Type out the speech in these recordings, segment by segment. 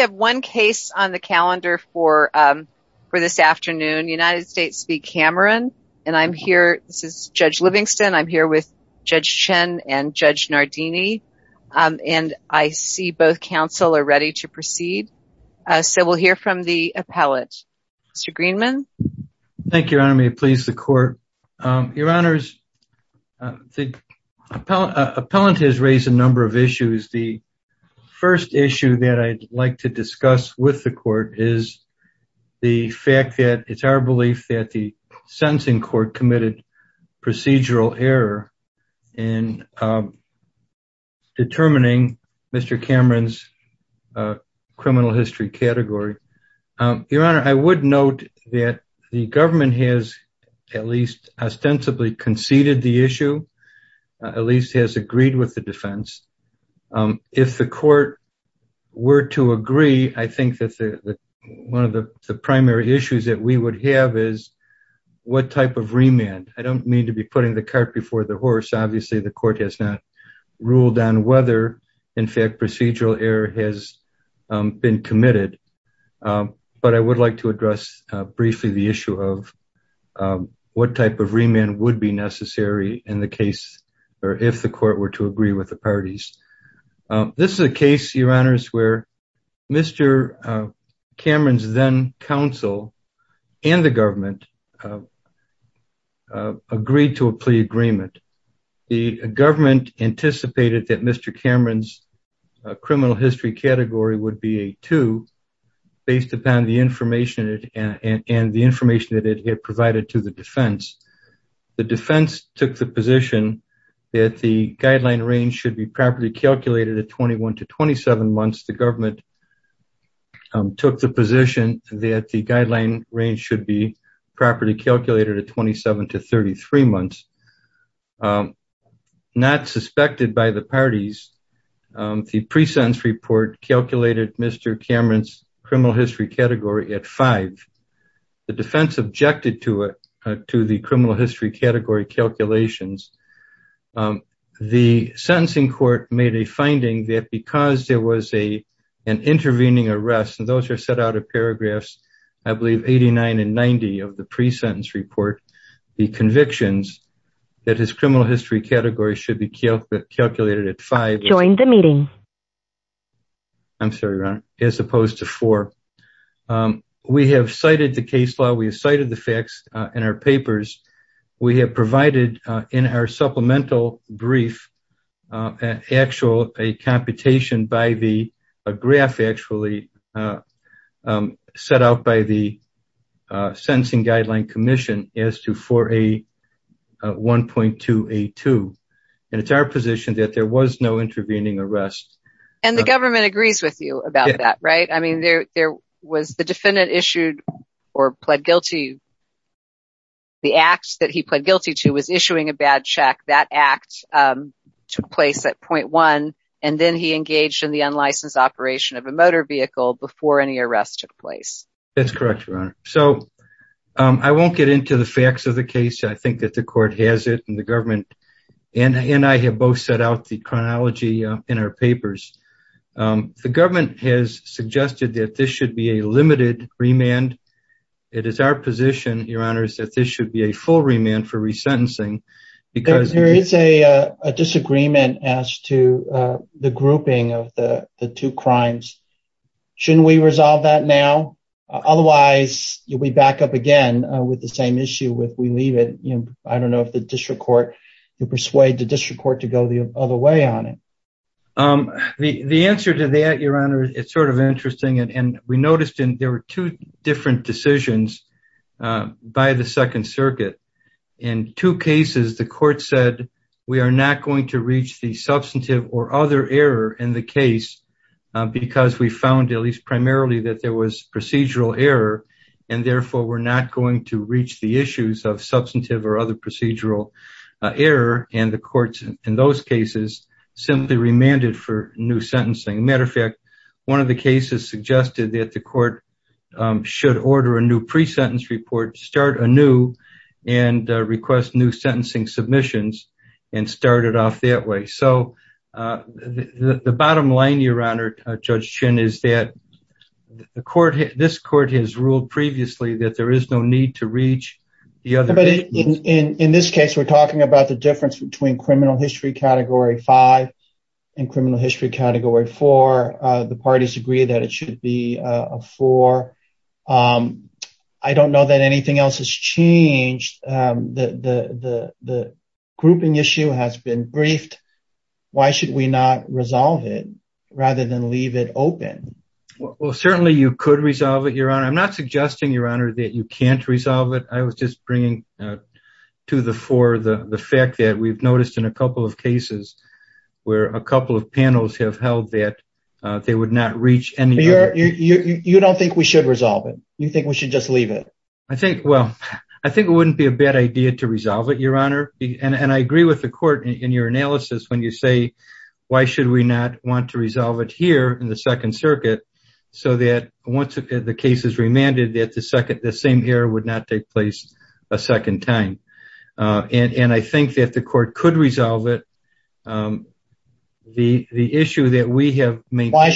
We have one case on the calendar for this afternoon, United States v. Cameron, and I'm here, this is Judge Livingston, I'm here with Judge Chen and Judge Nardini, and I see both counsel are ready to proceed, so we'll hear from the appellate. Mr. Greenman? Thank you, Your Honor, may it please the Court. Your Honors, the appellate has raised a number of issues. The first issue that I'd like to discuss with the Court is the fact that it's our belief that the sentencing court committed procedural error in determining Mr. Cameron's criminal history category. Your Honor, I would note that the government has at least ostensibly conceded the issue, at least has agreed with the defense. If the Court were to agree, I think that the one of the primary issues that we would have is what type of remand. I don't mean to be putting the cart before the horse, obviously the Court has not ruled on whether in fact procedural error has been committed, but I would like to address briefly the issue of what type of remand would be necessary in the case, or if the Court were to agree with the parties. This is a case, Your Honors, where Mr. Cameron's then counsel and the government agreed to a plea agreement. The government anticipated that Mr. Cameron's criminal history category would be a 2 based upon the information and the information that it had provided to the defense. The defense took the position that the guideline range should be properly calculated at 21 to 27 months. The government took the position that the parties, the pre-sentence report calculated Mr. Cameron's criminal history category at 5. The defense objected to it, to the criminal history category calculations. The sentencing court made a finding that because there was an intervening arrest, and those are set out of paragraphs, I believe 89 and 90 of the pre-sentence report, the convictions that his criminal history category should be calculated at 5 as opposed to 4. We have cited the case law, we have cited the facts in our papers, we have provided in our supplemental brief an actual computation by the, a graph actually set out by the Sentencing Guideline Commission as to 4A1.2A2, and it's our position that there was no intervening arrest. And the government agrees with you about that, right? I mean, there was the defendant issued or pled guilty. The act that he pled guilty to was issuing a bad check. That act took place at point one, and then he engaged in the unlicensed operation of a motor vehicle before any arrest took place. That's correct, Your Honor. So I won't get into the facts of the case. I think that the court has it and the government and I have both set out the chronology in our papers. The government has suggested that this should be a limited remand. It is our position, Your Honor, is that this should be a full remand for resentencing, because there is a disagreement as to the grouping of the two crimes. Shouldn't we resolve that now? Otherwise, you'll be back up again with the same issue if we leave it. I don't know if the district court, you persuade the district court to go the other way on it. The answer to that, Your Honor, it's sort of interesting. And we noticed in there were two different decisions by the Second Circuit. In two cases, the court said, we are not going to reach the substantive or other error in the case, because we found at least primarily that there was procedural error. And therefore, we're not going to reach the issues of substantive or other error. And therefore, we're not going to recommend it for new sentencing. As a matter of fact, one of the cases suggested that the court should order a new pre-sentence report, start anew, and request new sentencing submissions, and start it off that way. So the bottom line, Your Honor, Judge Chinn, is that the court, this court has ruled previously that there is no need to reach the other. In this case, we're talking about the difference between Criminal History Category 5 and Criminal History Category 4. The parties agree that it should be a 4. I don't know that anything else has changed. The grouping issue has been briefed. Why should we not resolve it, rather than leave it open? Well, certainly you could resolve it, Your Honor. I'm not suggesting, Your Honor, that you can't resolve it. I was just bringing to the fore the fact that we've noticed in a couple of cases where a couple of panels have held that they would not reach any other. You don't think we should resolve it? You think we should just leave it? I think, well, I think it wouldn't be a bad idea to resolve it, Your Honor. And I agree with the court in your analysis when you say, why should we not want to resolve it here in the Second Circuit, so that once the case is remanded, that the same error would not take place a second time. And I think that the court could resolve it. The issue that we have made... Why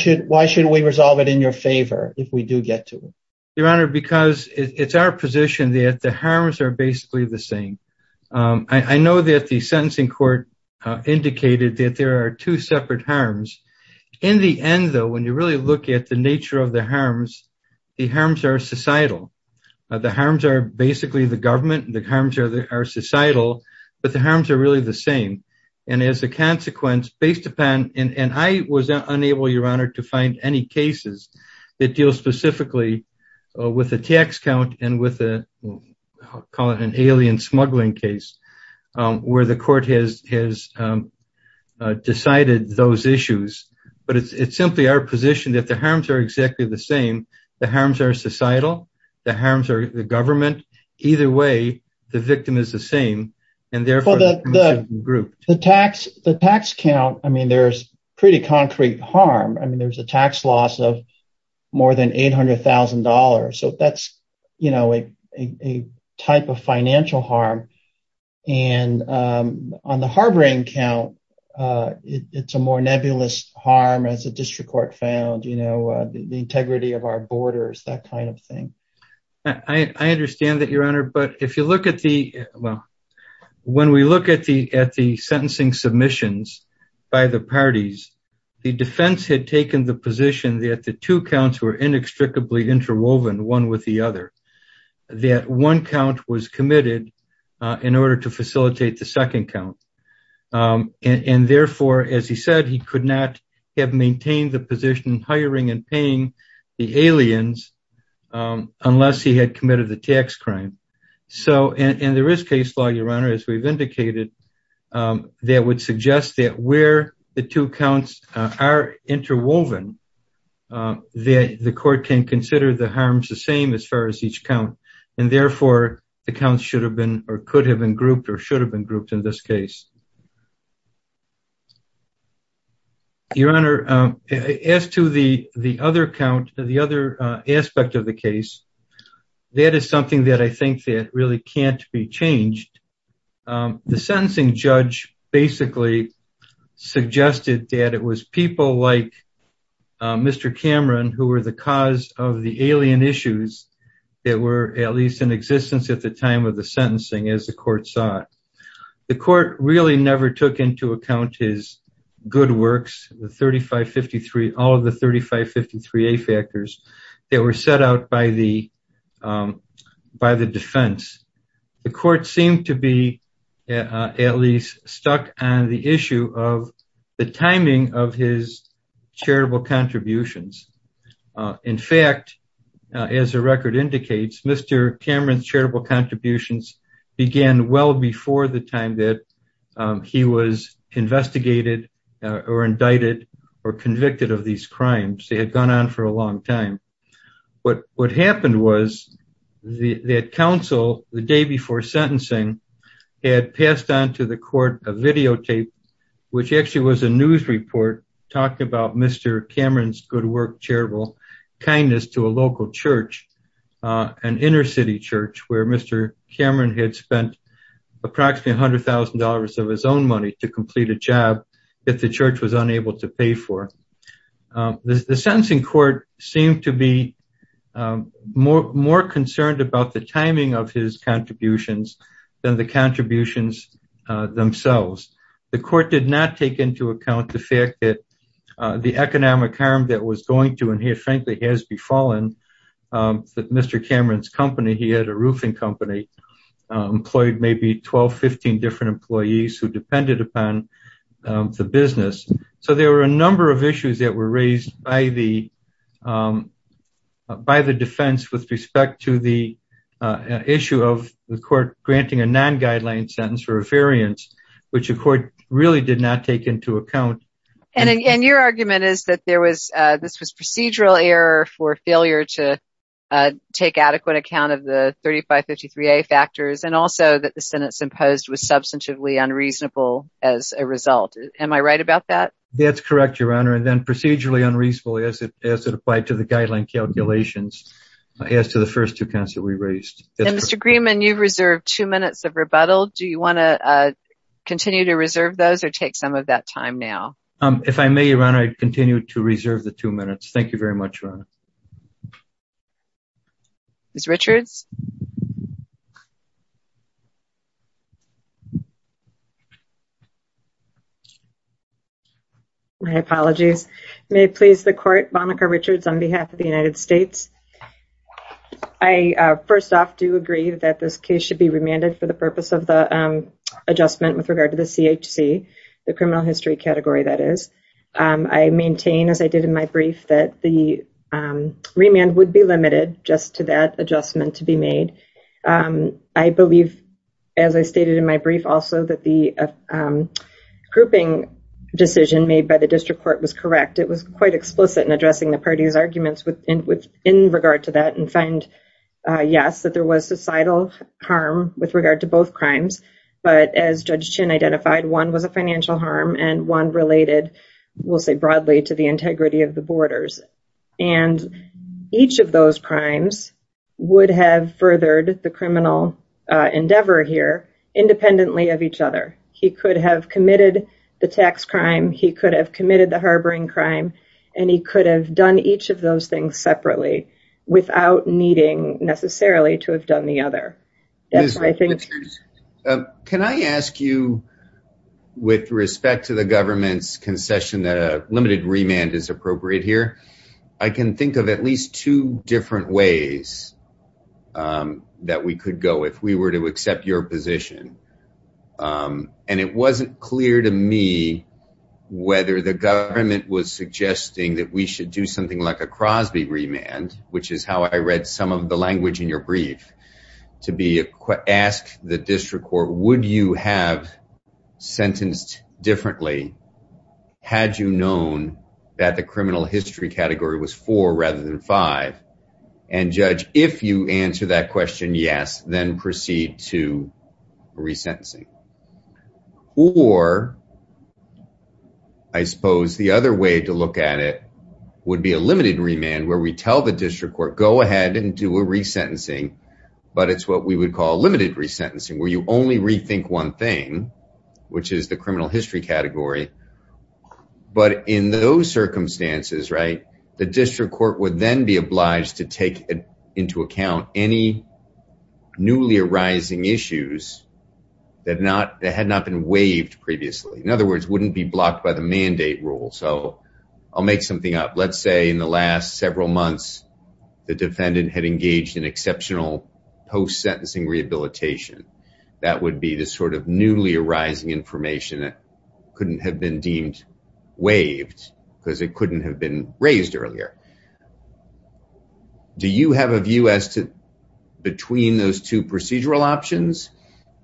should we resolve it in your favor, if we do get to it? Your Honor, because it's our position that the harms are basically the same. I know that the sentencing court indicated that there are two separate harms. In the end, though, when you really look at the nature of the harms, the harms are societal. The harms are basically the government, the harms are societal, but the harms are really the same. And as a consequence, based upon... And I was unable, Your Honor, to find any But it's simply our position that the harms are exactly the same. The harms are societal, the harms are the government. Either way, the victim is the same, and therefore, the group... The tax count, I mean, there's pretty concrete harm. I mean, there's a tax loss of more than $800,000. So that's, you know, a type of financial harm. And on the harboring count, it's a more nebulous harm, as the district court found, you know, the integrity of our borders, that kind of thing. I understand that, Your Honor. But if you look at the... Well, when we look at the sentencing submissions by the parties, the defense had taken the And therefore, as he said, he could not have maintained the position hiring and paying the aliens unless he had committed the tax crime. So, and there is case law, Your Honor, as we've indicated, that would suggest that where the two counts are interwoven, the court can consider the harms the same as far as each count. And therefore, the counts should have been or could have been grouped or should have been grouped in this case. Your Honor, as to the other count, the other aspect of the case, that is something that I think that really can't be changed. The sentencing judge basically suggested that it was people like Mr. Cameron, who was a good worker, who never took into account his good works, the 3553, all of the 3553A factors that were set out by the defense. The court seemed to be at least stuck on the issue of the timing of his charitable contributions. In fact, as the record indicates, Mr. Cameron's charitable contributions began well before the time that he was investigated or indicted or convicted of these crimes. They had gone on for a long time. But what happened was that counsel, the day before sentencing, had passed on to the court a videotape, which actually was a news report talking about Mr. Cameron's good work, charitable kindness to a local church, an inner city church where Mr. Cameron had spent approximately $100,000 of his own money to complete a job that the church was unable to pay for. The sentencing court seemed to be more concerned about the timing of his contributions than the contributions themselves. The court did not take into account the fact that the economic harm that was going to, and here, frankly, has befallen Mr. Cameron's company. He had a roofing company, employed maybe 12, 15 different employees who depended upon the business. So there were a number of issues that were raised by the defense with respect to the issue of the court granting a non-guideline sentence for a variance, which the court really did not take into account. And your argument is that this was procedural error for failure to take adequate account of the 3553A factors and also that the sentence imposed was substantively unreasonable as a result. Am I right about that? That's correct, Your Honor. And then procedurally unreasonable as it applied to the guideline calculations as to the first two counts that we raised. Mr. Grieman, you've reserved two minutes of rebuttal. Do you want to continue to reserve those or take some of that time now? If I may, Your Honor, I'd continue to reserve the two minutes. Thank you very much, Your Honor. Ms. Richards? My apologies. May it please the Court, Monica Richards on behalf of the United States. I, first off, do agree that this case should be remanded for the purpose of the adjustment with regard to the CHC, the criminal history category, that is. I maintain, as I did in my brief, that the remand would be limited just to that adjustment to be made. I believe, as I stated in my brief also, that the grouping decision made by the district court was correct. It was quite explicit in addressing the party's arguments in regard to that and find, yes, that there was societal harm with regard to both crimes. But as Judge Chin identified, one was a financial harm and one related, we'll say broadly, to the integrity of the borders. And each of those crimes would have furthered the criminal endeavor here independently of each other. He could have committed the tax crime. He could have committed the harboring crime. And he could have done each of those things separately without needing necessarily to have done the other. Can I ask you, with respect to the government's concession that a limited remand is appropriate here, I can think of at least two different ways that we could go if we were to accept your position. And it wasn't clear to me whether the government was suggesting that we should do something like a Crosby remand, which is how I read some of the language in your brief, to ask the district court, would you have sentenced differently had you known that the criminal history category was four rather than five? And judge, if you answer that question, yes, then proceed to resentencing. Or I suppose the other way to look at it would be a limited remand where we tell the district court, go ahead and do a resentencing. But it's what we would call limited resentencing, where you only rethink one thing, which is the criminal history category. But in those circumstances, the district court would then be obliged to take into account any newly arising issues that had not been waived previously. In other words, wouldn't be blocked by the mandate rule. So I'll make something up. Let's say in the last several months, the defendant had engaged in exceptional post sentencing rehabilitation. That would be the sort of newly arising information that couldn't have been deemed waived because it couldn't have been raised earlier. Do you have a view as to between those two procedural options,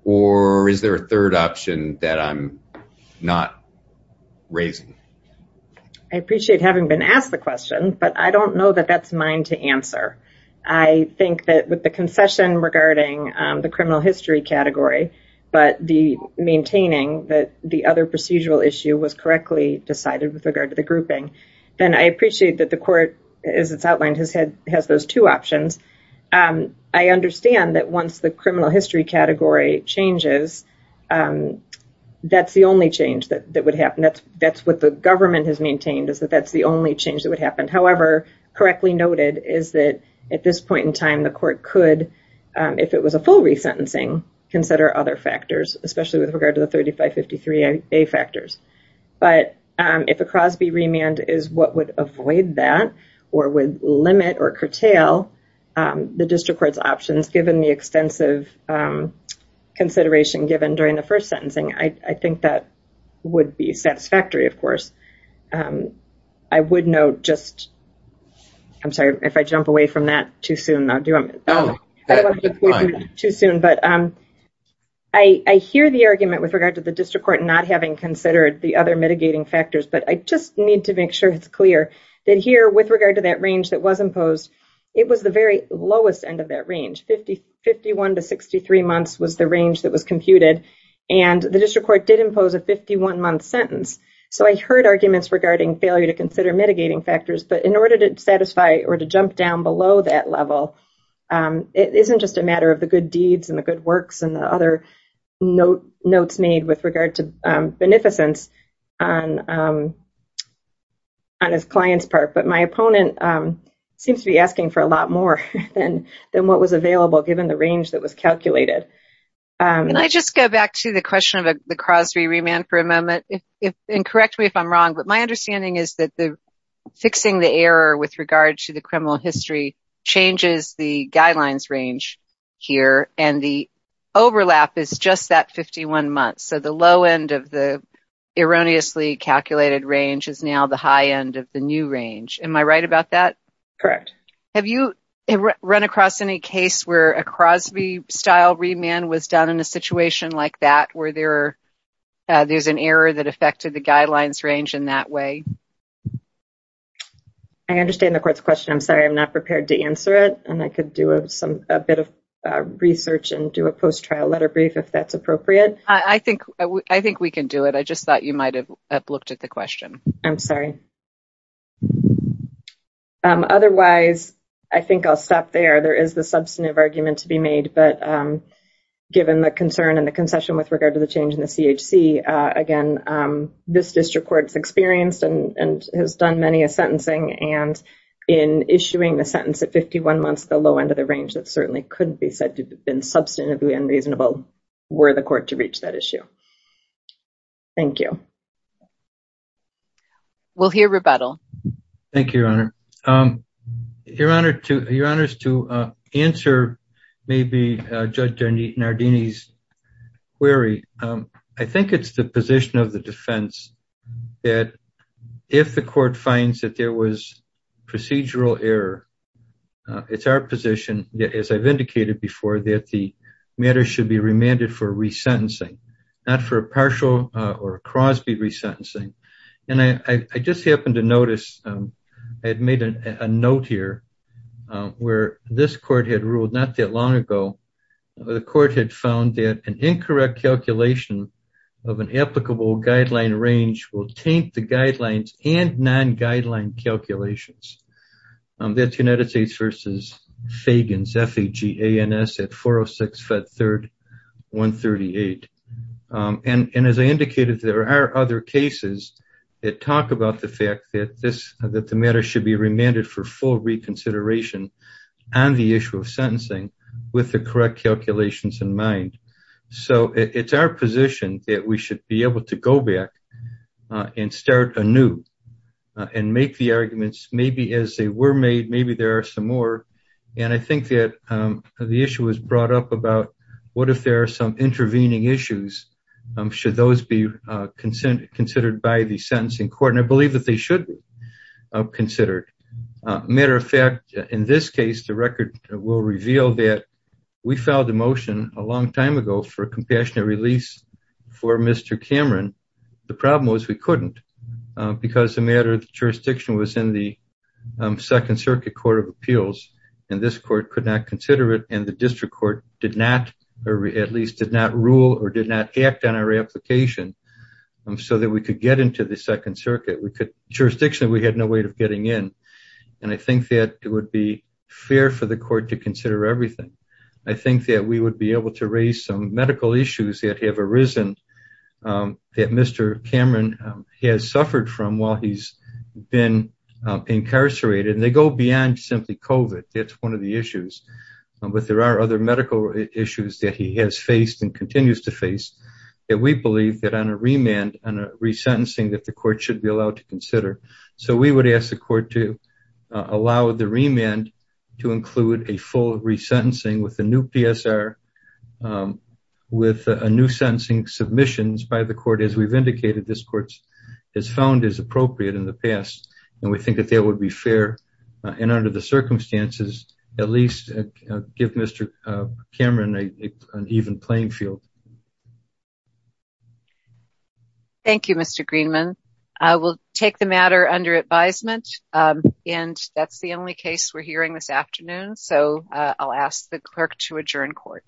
or is there a third option that I'm not raising? I appreciate having been asked the question, but I don't know that that's mine to answer. I think that with the concession regarding the criminal history category, but the maintaining that the other procedural issue was correctly decided with regard to the grouping. Then I appreciate that the court, as it's outlined, has those two options. I understand that once the criminal history category changes, that's the only change that would happen. That's what the government has maintained, is that that's the only change that would happen. However, correctly noted, is that at this point in time, the court could, if it was a full resentencing, consider other factors, especially with regard to the 3553A factors. But if a Crosby remand is what would avoid that, or would limit or curtail the district court's options, given the extensive consideration given during the first sentencing, I think that would be satisfactory, of course. I would note just, I'm sorry if I jump away from that too soon. I hear the argument with regard to the district court not having considered the other mitigating factors, but I just need to make sure it's clear that here with regard to that range that was imposed, it was the very lowest end of that range. 51 to 63 months was the range that was computed, and the district court did impose a 51-month sentence. So I heard arguments regarding failure to consider mitigating factors, but in order to satisfy or to jump down below that level, it isn't just a matter of the good deeds and the good works and the other notes made with regard to beneficence on his client's part. But my opponent seems to be asking for a lot more than what was available, given the range that was calculated. Can I just go back to the question of the Crosby remand for a moment? And correct me if I'm wrong, but my understanding is that fixing the error with regard to the criminal history changes the guidelines range here, and the overlap is just that 51 months. So the low end of the erroneously calculated range is now the high end of the new range. Am I right about that? Correct. Have you run across any case where a Crosby-style remand was done in a situation like that, where there's an error that affected the guidelines range in that way? I understand the court's question. I'm sorry, I'm not prepared to answer it, and I could do a bit of research and do a post-trial letter brief if that's appropriate. I think we can do it. I just thought you might have looked at the question. I'm sorry. Otherwise, I think I'll stop there. There is the substantive argument to be made, but given the concern and the concession with regard to the change in the CHC, again, this district court has experienced and has done many a sentencing. And in issuing the sentence at 51 months, the low end of the range that certainly couldn't be said to have been substantively unreasonable were the court to reach that issue. Thank you. We'll hear rebuttal. Thank you, Your Honor. Your Honor, to answer maybe Judge Nardini's query, I think it's the position of the defense that if the court finds that there was procedural error, it's our position, as I've indicated before, that the matter should be remanded for resentencing, not for a partial or a Crosby resentencing. And I just happened to notice, I had made a note here where this court had ruled not that long ago, the court had found that an incorrect calculation of an applicable guideline range will taint the guidelines and non-guideline calculations. That's United States v. Fagans, F-A-G-A-N-S at 406 Fed 3rd 138. And as I indicated, there are other cases that talk about the fact that the matter should be remanded for full reconsideration on the issue of sentencing with the correct calculations in mind. So it's our position that we should be able to go back and start anew and make the arguments maybe as they were made, maybe there are some more. And I think that the issue was brought up about what if there are some intervening issues, should those be considered by the sentencing court? And I believe that they should be considered. Matter of fact, in this case, the record will reveal that we filed a motion a long time ago for a compassionate release for Mr. Cameron. The problem was we couldn't because the matter of the jurisdiction was in the Second Circuit Court of Appeals and this court could not consider it. And the district court did not, or at least did not rule or did not act on our application so that we could get into the Second Circuit. Jurisdictionally, we had no way of getting in. And I think that it would be fair for the court to consider everything. I think that we would be able to raise some medical issues that have arisen that Mr. Cameron has suffered from while he's been incarcerated and they go beyond simply COVID. That's one of the issues. But there are other medical issues that he has faced and continues to face that we believe that on a remand, on a resentencing that the court should be allowed to consider. So we would ask the court to allow the remand to include a full resentencing with a new PSR, with a new sentencing submissions by the court as we've indicated this court has found is appropriate in the past. And we think that that would be fair. And under the circumstances, at least give Mr. Cameron an even playing field. Thank you, Mr. Greenman. I will take the matter under advisement. And that's the only case we're hearing this afternoon. So I'll ask the clerk to adjourn court.